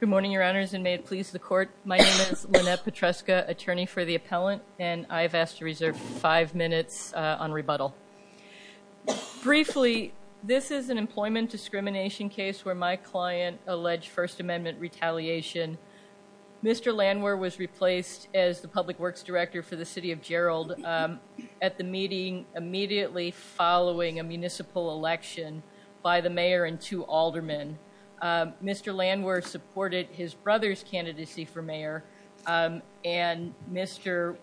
Good morning, your honors, and may it please the court. My name is Lynette Petruska, attorney for the appellant, and I've asked to reserve five minutes on rebuttal. Briefly, this is an employment discrimination case where my client alleged First Amendment retaliation. Mr. Landwehr was replaced as the public works director for the City of Gerald at the meeting immediately following a municipal election by the mayor and two aldermen. Mr. Landwehr supported his brother's candidacy for mayor, and Mr.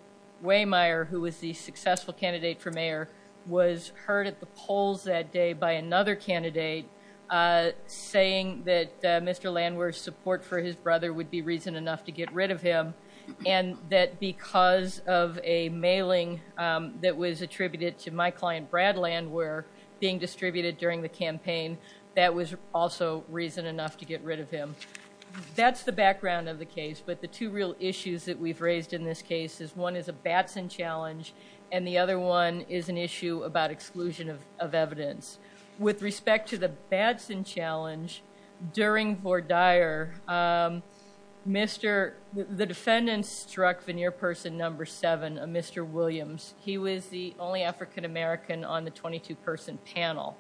Waymire, who was the successful candidate for mayor, was heard at the polls that day by another candidate saying that Mr. Landwehr's support for his brother would be reason enough to get rid of him, and that because of a mailing that was attributed to my client Brad Landwehr being distributed during the campaign, that was also reason enough to get rid of him. That's the background of the case, but the two real issues that we've raised in this case is one is a Batson challenge, and the other one is an issue about exclusion of evidence. With respect to the Batson challenge, during Vordier, the defendant struck veneer person number seven, a Mr. Williams. He was the only African American on the 22-person panel.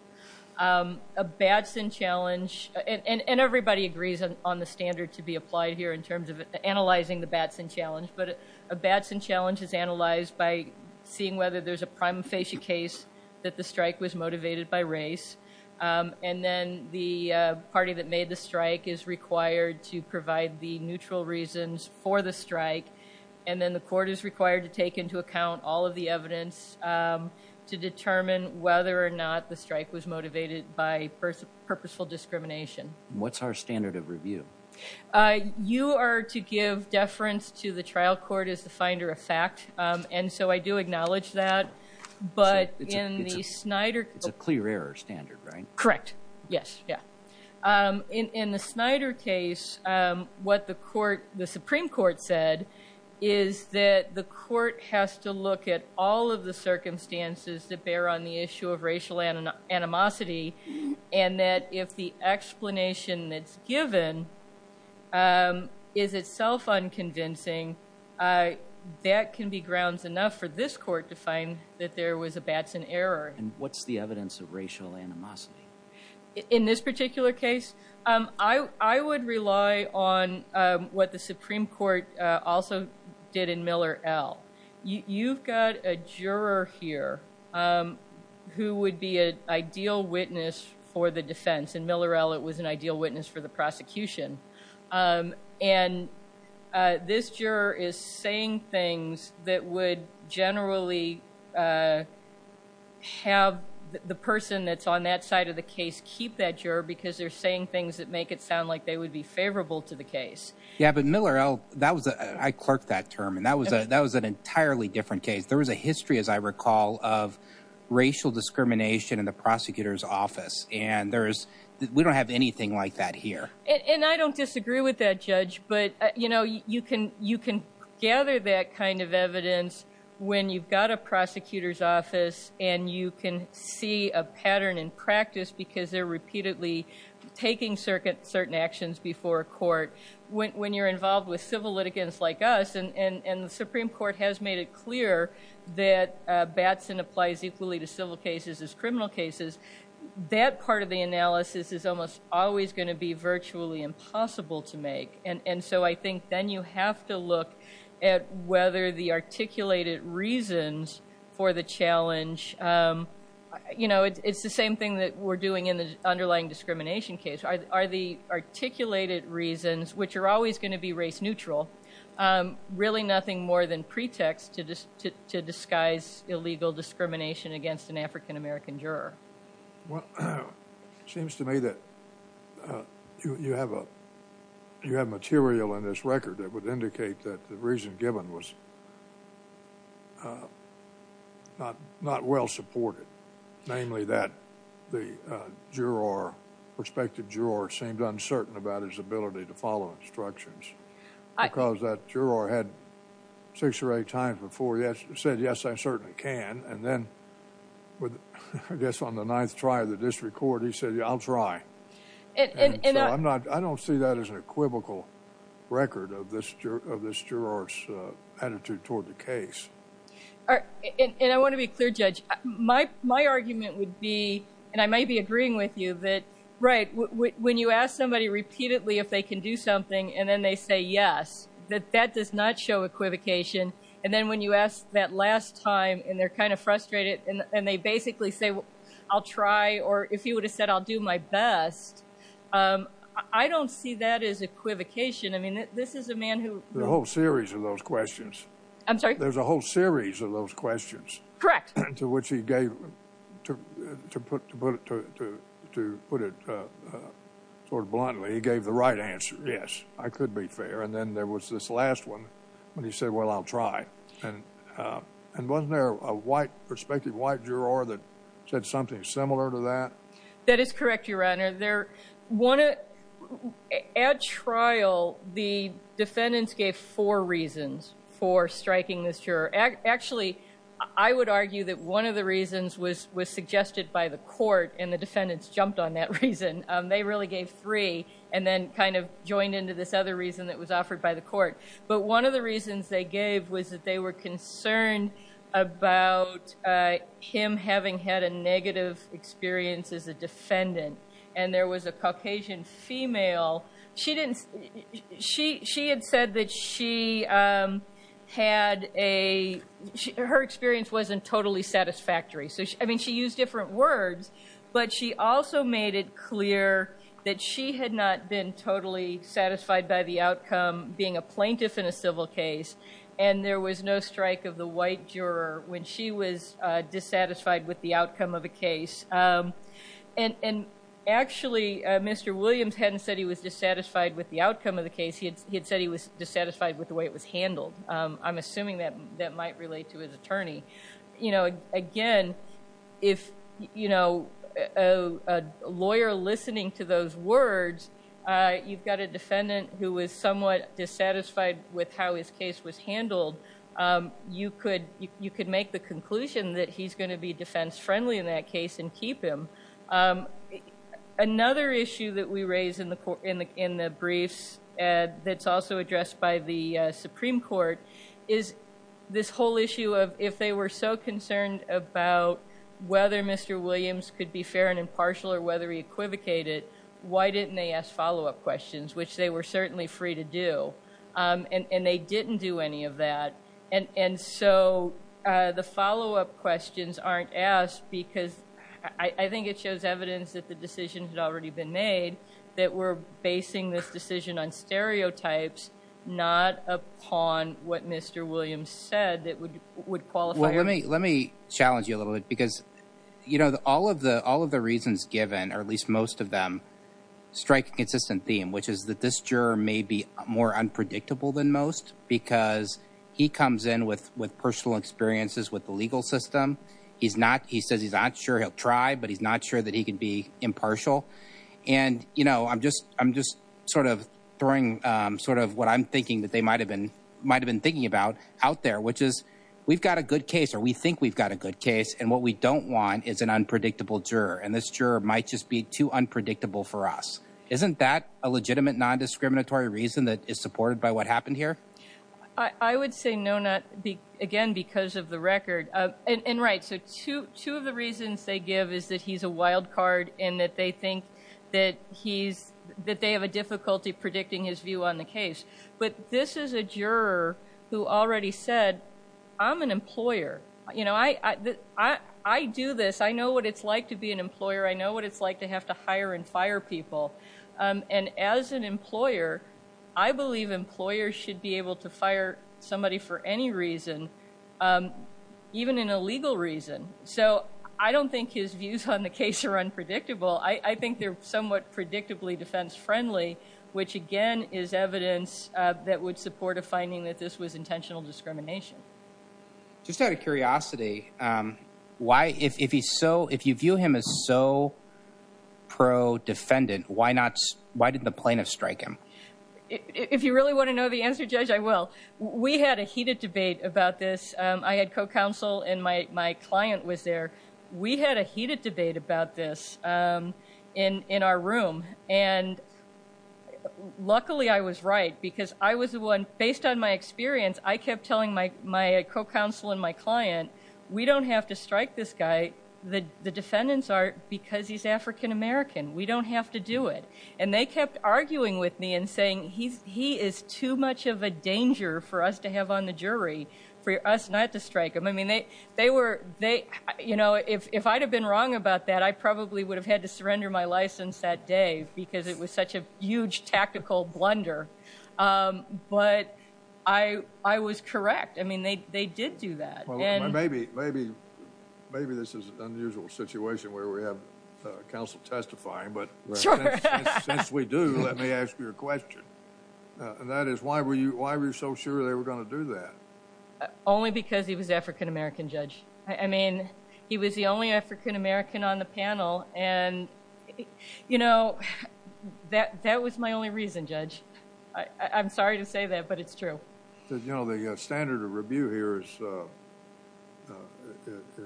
A Batson challenge, and everybody agrees on the standard to be applied here in terms of analyzing the Batson challenge, but a Batson challenge is analyzed by seeing whether there's a prima facie case that the strike was motivated by race, and then the party that made the strike is required to provide the neutral reasons for the strike, and then the court is required to take into account all of the evidence to determine whether or not the strike was motivated by purposeful discrimination. What's our standard of review? You are to give deference to the trial court as the finder of fact, and so I do acknowledge that, but in the Snyder- It's a clear error standard, right? Correct, yes. In the Snyder case, what the Supreme Court said is that the court has to look at all of the circumstances that bear on the issue of racial animosity, and that if the explanation that's given is itself unconvincing, that can be grounds enough for this court to find that there was a Batson error. And what's the evidence of racial animosity? In this particular case, I would rely on what the Supreme Court also did in Miller L. You've got a juror here who would be an ideal witness for the defense. In Miller L., it was an ideal witness for the prosecution, and this juror is saying things that would generally have the person that's on that side of the case keep that juror because they're saying things that make it sound like they would be favorable to the case. Yeah, but Miller L., I clerked that term, and that was an entirely different case. There was a history, as I recall, of racial discrimination in the prosecutor's office, and we don't have anything like that here. And I don't disagree with that, Judge, but you can gather that kind of evidence when you've got a prosecutor's office, and you can see a pattern in practice because they're repeatedly taking certain actions before court. When you're involved with civil litigants like us, and the Supreme Court has made it clear that Batson applies equally to civil cases as criminal cases, that part of the analysis is almost always going to be virtually impossible to make. And so I think then you have to look at whether the articulated reasons for the challenge, you know, it's the same thing that we're doing in the underlying discrimination case. Are the articulated reasons, which are always going to be race neutral, really nothing more than pretext to disguise illegal discrimination against an African-American juror? Well, it seems to me that you have material in this record that would indicate that the reason given was not well supported, namely that the juror, prospective juror, seemed uncertain about his ability to follow instructions because that juror had six or eight times before said, yes, I certainly can. And then I guess on the ninth try of the district court, he said, yeah, I'll try. And so I don't see that as an equivocal record of this juror's attitude toward the case. And I want to be clear, Judge, my argument would be, and I may be agreeing with you, that, right, when you ask somebody repeatedly if they can do something and then they say yes, that that does not show equivocation. And then when you ask that last time and they're kind of frustrated and they basically say, well, I'll try. Or if you would have said, I'll do my best. I don't see that as equivocation. I mean, this is a man who the whole series of those questions. I'm sorry. There's a whole series of those questions. Correct. To which he gave to put to put it to put it sort of bluntly. He gave the right answer. Yes, I could be fair. And then there was this last one when he said, well, I'll try. And wasn't there a white perspective, white juror that said something similar to that? That is correct, Your Honor. There one at trial. The defendants gave four reasons for striking this juror. Actually, I would argue that one of the reasons was was suggested by the court and the defendants jumped on that reason. They really gave three and then kind of joined into this other reason that was offered by the court. But one of the reasons they gave was that they were concerned about him having had a negative experience as a defendant. And there was a Caucasian female. She didn't. She she had said that she had a her experience wasn't totally satisfactory. So, I mean, she used different words, but she also made it clear that she had not been totally satisfied by the outcome being a plaintiff in a civil case. And there was no strike of the white juror when she was dissatisfied with the outcome of a case. And actually, Mr. Williams hadn't said he was dissatisfied with the outcome of the case. He had said he was dissatisfied with the way it was handled. I'm assuming that that might relate to his attorney. You know, again, if, you know, a lawyer listening to those words, you've got a defendant who is somewhat dissatisfied with how his case was handled. You could you could make the conclusion that he's going to be defense friendly in that case and keep him. Another issue that we raise in the in the briefs that's also addressed by the Supreme Court is this whole issue of if they were so concerned about whether Mr. Williams could be fair and impartial or whether he equivocated, why didn't they ask follow up questions, which they were certainly free to do and they didn't do any of that. And so the follow up questions aren't asked because I think it shows evidence that the decision had already been made that we're basing this decision on stereotypes, not upon what Mr. Williams said that would would qualify. Well, let me let me challenge you a little bit, because, you know, all of the all of the reasons given, or at least most of them strike a consistent theme, which is that this juror may be more unpredictable than most because he comes in with with personal experiences with the legal system. He's not he says he's not sure he'll try, but he's not sure that he can be impartial. And, you know, I'm just I'm just sort of throwing sort of what I'm thinking that they might have been might have been thinking about out there, which is we've got a good case or we think we've got a good case. And what we don't want is an unpredictable juror. And this juror might just be too unpredictable for us. Isn't that a legitimate non-discriminatory reason that is supported by what happened here? I would say no, not again because of the record. And right. So two of the reasons they give is that he's a wild card and that they think that he's that they have a difficulty predicting his view on the case. But this is a juror who already said, I'm an employer. You know, I I do this. I know what it's like to be an employer. I know what it's like to have to hire and fire people. And as an employer, I believe employers should be able to fire somebody for any reason, even in a legal reason. So I don't think his views on the case are unpredictable. I think they're somewhat predictably defense friendly, which, again, is evidence that would support a finding that this was intentional discrimination. Just out of curiosity, why if he's so if you view him as so pro defendant, why not? Why did the plaintiff strike him? If you really want to know the answer, Judge, I will. We had a heated debate about this. I had co-counsel and my client was there. We had a heated debate about this in our room. And luckily, I was right because I was the one based on my experience. I kept telling my my co-counsel and my client, we don't have to strike this guy. The defendants are because he's African-American. We don't have to do it. And they kept arguing with me and saying he's he is too much of a danger for us to have on the jury for us not to strike him. I mean, they they were they you know, if I'd have been wrong about that, I probably would have had to surrender my license that day because it was such a huge tactical blunder. But I was correct. I mean, they did do that. Maybe this is an unusual situation where we have counsel testifying, but since we do, let me ask you a question. And that is why were you so sure they were going to do that? Only because he was African-American, Judge. I mean, he was the only African-American on the panel. And, you know, that that was my only reason, Judge. I'm sorry to say that, but it's true. I'm sorry to say that, Judge. I'm sorry to say that. So it's just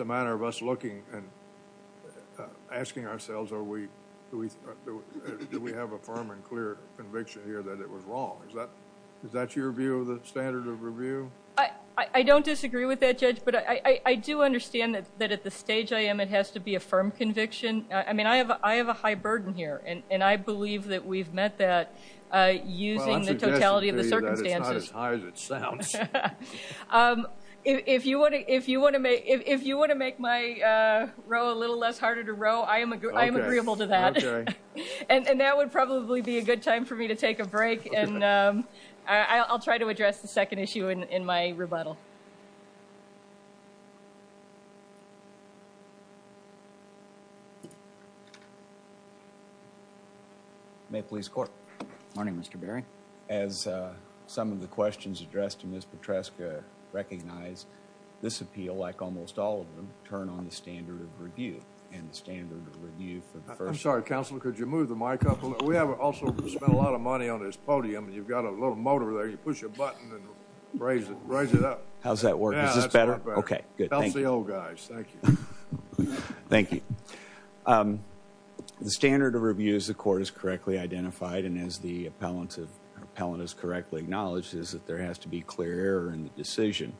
a matter of us looking and asking ourselves, are we do we do we have a firm and clear conviction here that it was wrong? Is that is that your view of the standard of review? I don't disagree with that, Judge, but I do understand that that at the stage I am, it has to be a firm conviction. I mean, I have I have a high burden here, and I believe that we've met that using the totality of the circumstances. But it's not as high as it sounds. If you want to if you want to make if you want to make my row a little less harder to row, I am I am agreeable to that. And that would probably be a good time for me to take a break. And I'll try to address the second issue in my rebuttal. May police court. Morning, Mr. Berry. As some of the questions addressed in this Petresca recognize this appeal, like almost all of them, turn on the standard of review and the standard of review for the first. I'm sorry, counsel. Could you move the mic up a little? We haven't also spent a lot of money on this podium. You've got a little motor there. You push a button and raise it, raise it up. How's that work? Is this better? OK, good. Thank you, guys. Thank you. Thank you. The standard of review is the court is correctly identified. And as the appellant of appellant is correctly acknowledged is that there has to be clear in the decision.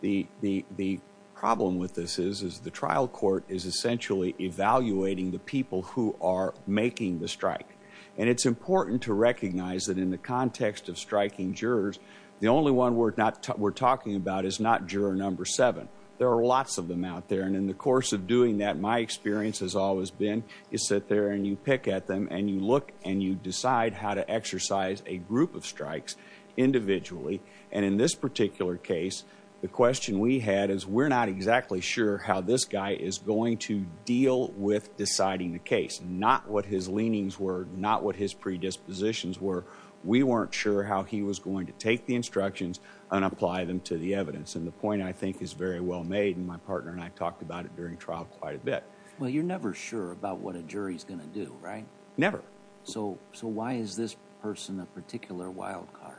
The the the problem with this is, is the trial court is essentially evaluating the people who are making the strike. And it's important to recognize that in the context of striking jurors, the only one we're not we're talking about is not juror number seven. There are lots of them out there. And in the course of doing that, my experience has always been you sit there and you pick at them and you look and you decide how to exercise a group of strikes individually. And in this particular case, the question we had is we're not exactly sure how this guy is going to deal with deciding the case, not what his leanings were, not what his predispositions were. We weren't sure how he was going to take the instructions and apply them to the evidence. And the point, I think, is very well made. And my partner and I talked about it during trial quite a bit. Well, you're never sure about what a jury is going to do, right? Never. So so why is this person a particular wildcard?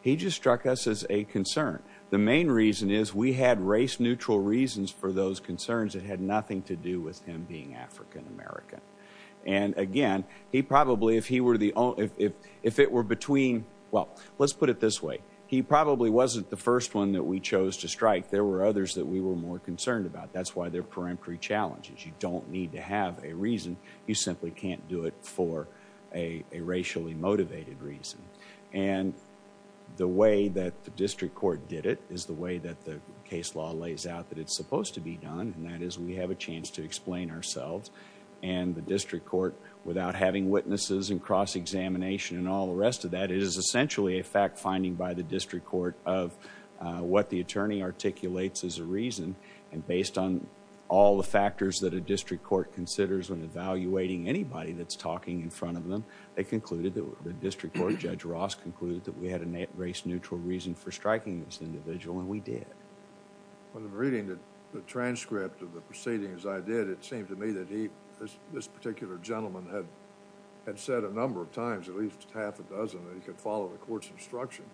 He just struck us as a concern. The main reason is we had race neutral reasons for those concerns that had nothing to do with him being African-American. And again, he probably if he were the only if if if it were between. Well, let's put it this way. He probably wasn't the first one that we chose to strike. There were others that we were more concerned about. That's why they're peremptory challenges. You don't need to have a reason. You simply can't do it for a racially motivated reason. And the way that the district court did it is the way that the case law lays out that it's supposed to be done. And that is we have a chance to explain ourselves and the district court without having witnesses and cross examination and all the rest of that is essentially a fact finding by the district court of what the attorney articulates is a reason. And based on all the factors that a district court considers when evaluating anybody that's talking in front of them, they concluded that the district court, Judge Ross, concluded that we had a race neutral reason for striking this individual and we did. When I'm reading the transcript of the proceedings I did, it seemed to me that he, this particular gentleman, had said a number of times, at least half a dozen, that he could follow the court's instruction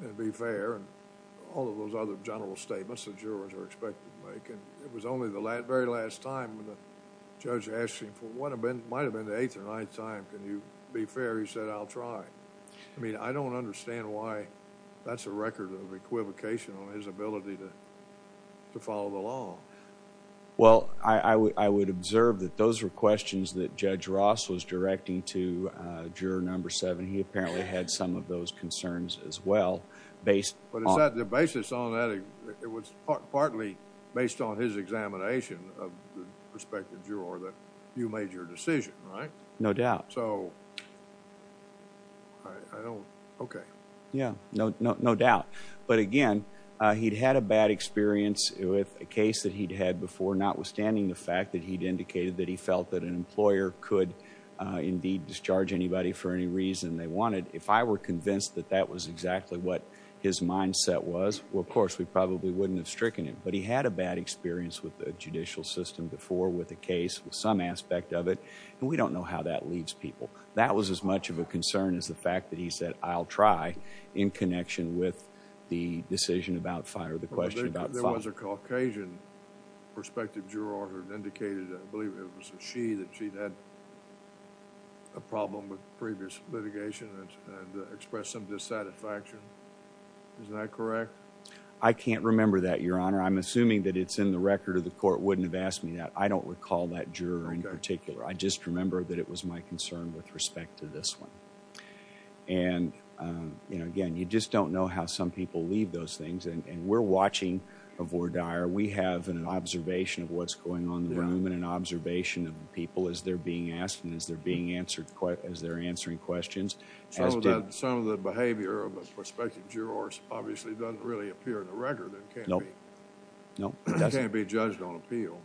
and be fair. And all of those other general statements that jurors are expected to make. And it was only the very last time when the judge asked him, for what might have been the eighth or ninth time, can you be fair, he said, I'll try. I mean, I don't understand why that's a record of equivocation on his ability to follow the law. Well, I would observe that those were questions that Judge Ross was directing to juror number seven. And he apparently had some of those concerns as well. But is that the basis on that? It was partly based on his examination of the prospective juror that you made your decision, right? No doubt. So, I don't, okay. Yeah, no doubt. But again, he'd had a bad experience with a case that he'd had before, notwithstanding the fact that he'd indicated that he felt that an employer could indeed discharge anybody for any reason they wanted. If I were convinced that that was exactly what his mindset was, well, of course, we probably wouldn't have stricken him. But he had a bad experience with the judicial system before, with the case, with some aspect of it. And we don't know how that leaves people. That was as much of a concern as the fact that he said, I'll try, in connection with the decision about fire, the question about fire. There was a Caucasian prospective juror who had indicated, I believe it was she, that she'd had a problem with previous litigation and expressed some dissatisfaction. Isn't that correct? I can't remember that, Your Honor. I'm assuming that it's in the record or the court wouldn't have asked me that. I don't recall that juror in particular. I just remember that it was my concern with respect to this one. And, again, you just don't know how some people leave those things. And we're watching a voir dire. We have an observation of what's going on in the room and an observation of the people as they're being asked and as they're answering questions. Some of the behavior of a prospective juror obviously doesn't really appear in the record. It can't be judged on appeal.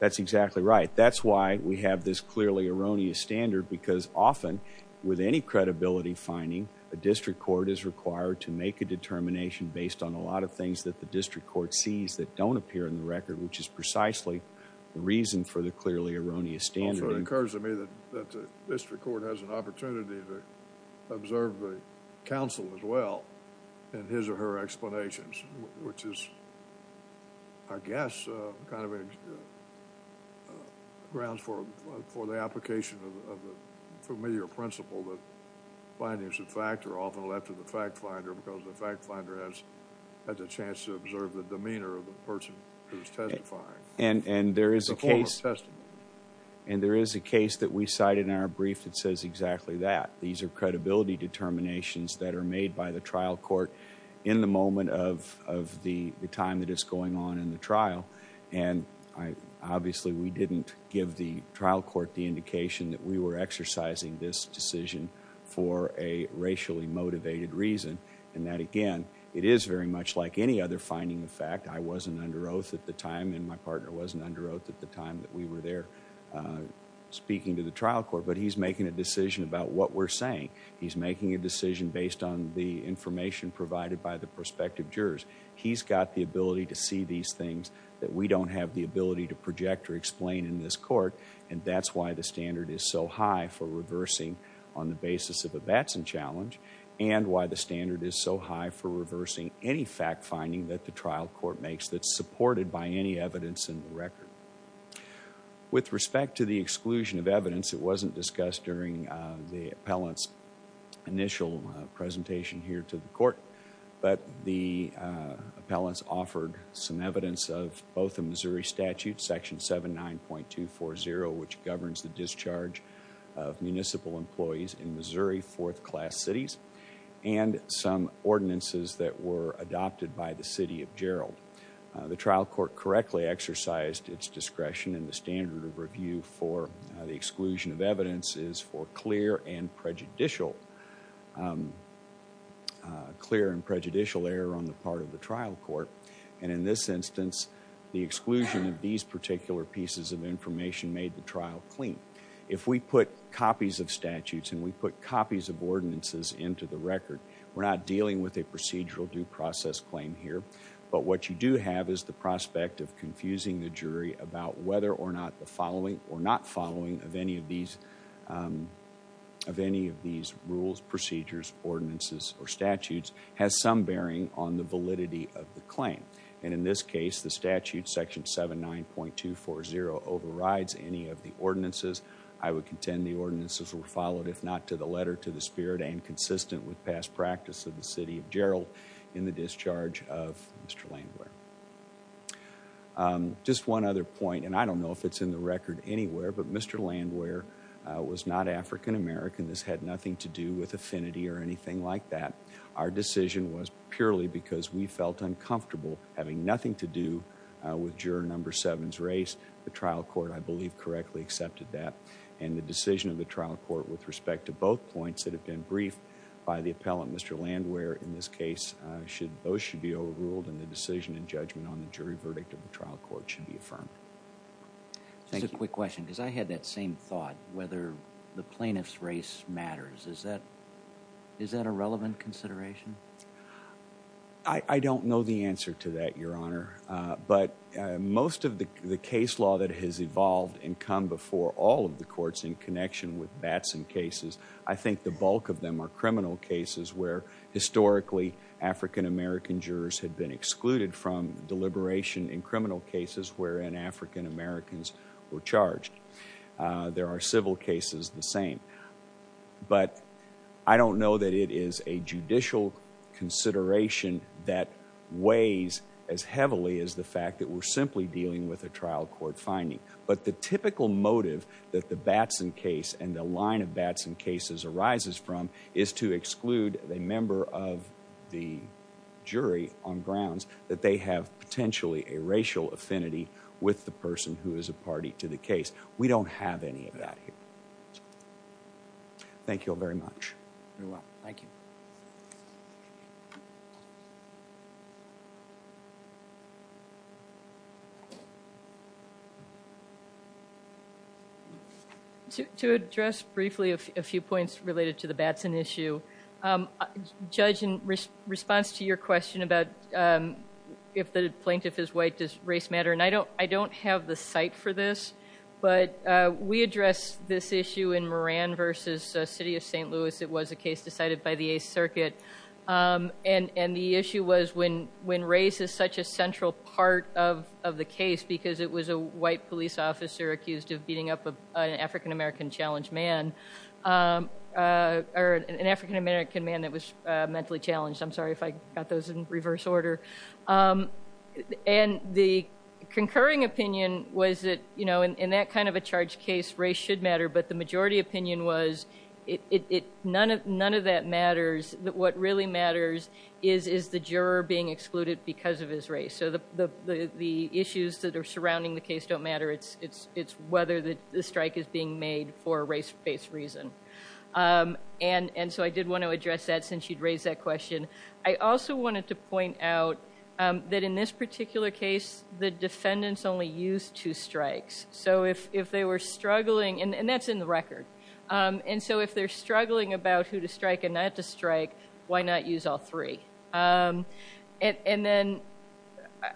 That's exactly right. That's why we have this clearly erroneous standard because often, with any credibility finding, a district court is required to make a determination based on a lot of things that the district court sees that don't appear in the record, which is precisely the reason for the clearly erroneous standard. So it occurs to me that the district court has an opportunity to observe the counsel as well in his or her explanations, which is, I guess, kind of grounds for the application of the familiar principle that findings of fact are often left to the fact finder because the fact finder has had the chance to observe the demeanor of the person who's testifying. And there is a case that we cite in our brief that says exactly that. These are credibility determinations that are made by the trial court in the moment of the time that it's going on in the trial. And obviously, we didn't give the trial court the indication that we were exercising this decision for a racially motivated reason and that, again, it is very much like any other finding of fact. I wasn't under oath at the time and my partner wasn't under oath at the time that we were there speaking to the trial court, but he's making a decision about what we're saying. He's making a decision based on the information provided by the prospective jurors. He's got the ability to see these things that we don't have the ability to project or explain in this court, and that's why the standard is so high for reversing on the basis of a Batson challenge and why the standard is so high for reversing any fact finding that the trial court makes that's supported by any evidence in the record. With respect to the exclusion of evidence, it wasn't discussed during the appellant's initial presentation here to the court, but the appellant's offered some evidence of both the Missouri statute, section 79.240, which governs the discharge of municipal employees in Missouri fourth class cities, and some ordinances that were adopted by the city of Gerald. The trial court correctly exercised its discretion in the standard of review for the exclusion of evidence is for clear and prejudicial error on the part of the trial court, and in this instance, the exclusion of these particular pieces of information made the trial clean. If we put copies of statutes and we put copies of ordinances into the record, we're not dealing with a procedural due process claim here, but what you do have is the prospect of confusing the jury about whether or not the following or not following of any of these rules, procedures, ordinances, or statutes has some bearing on the validity of the claim, and in this case, the statute, section 79.240, overrides any of the ordinances. I would contend the ordinances were followed, if not to the letter to the spirit and consistent with past practice of the city of Gerald in the discharge of Mr. Landwehr. Just one other point, and I don't know if it's in the record anywhere, but Mr. Landwehr was not African American. This had nothing to do with affinity or anything like that. Our decision was purely because we felt uncomfortable having nothing to do with juror number seven's race. The trial court, I believe, correctly accepted that, and the decision of the trial court with respect to both points that have been briefed by the appellant, Mr. Landwehr, in this case, those should be overruled, and the decision and judgment on the jury verdict of the trial court should be affirmed. Just a quick question, because I had that same thought, whether the plaintiff's race matters. Is that a relevant consideration? I don't know the answer to that, Your Honor, but most of the case law that has evolved and come before all of the courts in connection with Batson cases, I think the bulk of them are criminal cases where, historically, African American jurors had been excluded from deliberation in criminal cases wherein African Americans were charged. There are civil cases the same, but I don't know that it is a judicial consideration that weighs as heavily as the fact that we're simply dealing with a trial court finding. But the typical motive that the Batson case and the line of Batson cases arises from is to exclude a member of the jury on grounds that they have potentially a racial affinity with the person who is a party to the case. We don't have any of that here. Thank you all very much. Thank you. To address briefly a few points related to the Batson issue, Judge, in response to your question about if the plaintiff is white, does race matter? And I don't have the site for this, but we addressed this issue in Moran v. City of St. Louis. It was a case decided by the 8th Circuit. And the issue was when race is such a central part of the case because it was a white police officer accused of beating up an African American challenged man, or an African American man that was mentally challenged. I'm sorry if I got those in reverse order. And the concurring opinion was that in that kind of a charged case, race should matter. But the majority opinion was none of that matters. What really matters is the juror being excluded because of his race. So the issues that are surrounding the case don't matter. It's whether the strike is being made for a race-based reason. And so I did want to address that since you'd raised that question. I also wanted to point out that in this particular case, the defendants only used two strikes. So if they were struggling, and that's in the record. And so if they're struggling about who to strike and not to strike, why not use all three? And then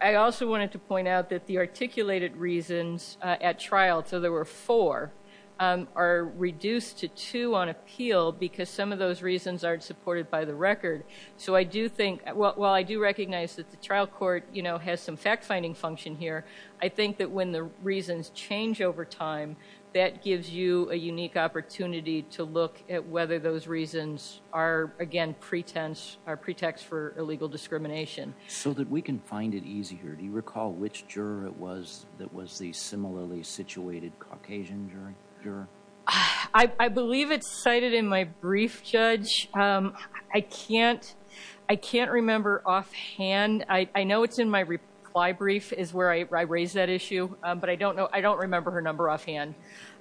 I also wanted to point out that the articulated reasons at trial, so there were four, are reduced to two on appeal because some of those reasons aren't supported by the record. So I do think, well, I do recognize that the trial court has some fact-finding function here. I think that when the reasons change over time, that gives you a unique opportunity to look at whether those reasons are, again, pretense or pretext for illegal discrimination. So that we can find it easier. Do you recall which juror it was that was the similarly situated Caucasian juror? I can't remember offhand. I know it's in my reply brief is where I raised that issue. But I don't remember her number offhand.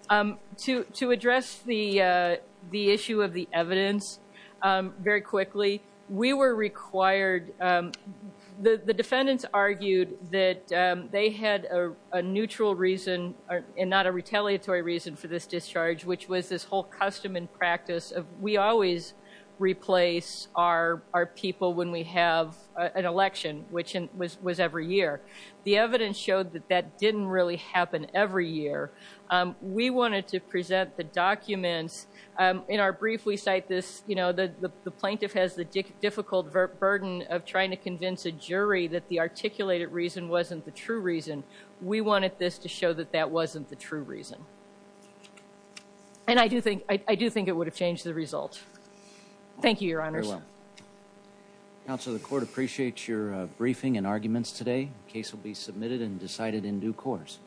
To address the issue of the evidence very quickly, we were required – the defendants argued that they had a neutral reason and not a retaliatory reason for this discharge, which was this whole custom and practice of we always replace our people when we have an election, which was every year. The evidence showed that that didn't really happen every year. We wanted to present the documents. In our brief, we cite this, you know, the plaintiff has the difficult burden of trying to convince a jury that the articulated reason wasn't the true reason. We wanted this to show that that wasn't the true reason. And I do think it would have changed the result. Thank you, Your Honors. Very well. Counsel, the court appreciates your briefing and arguments today. The case will be submitted and decided in due course.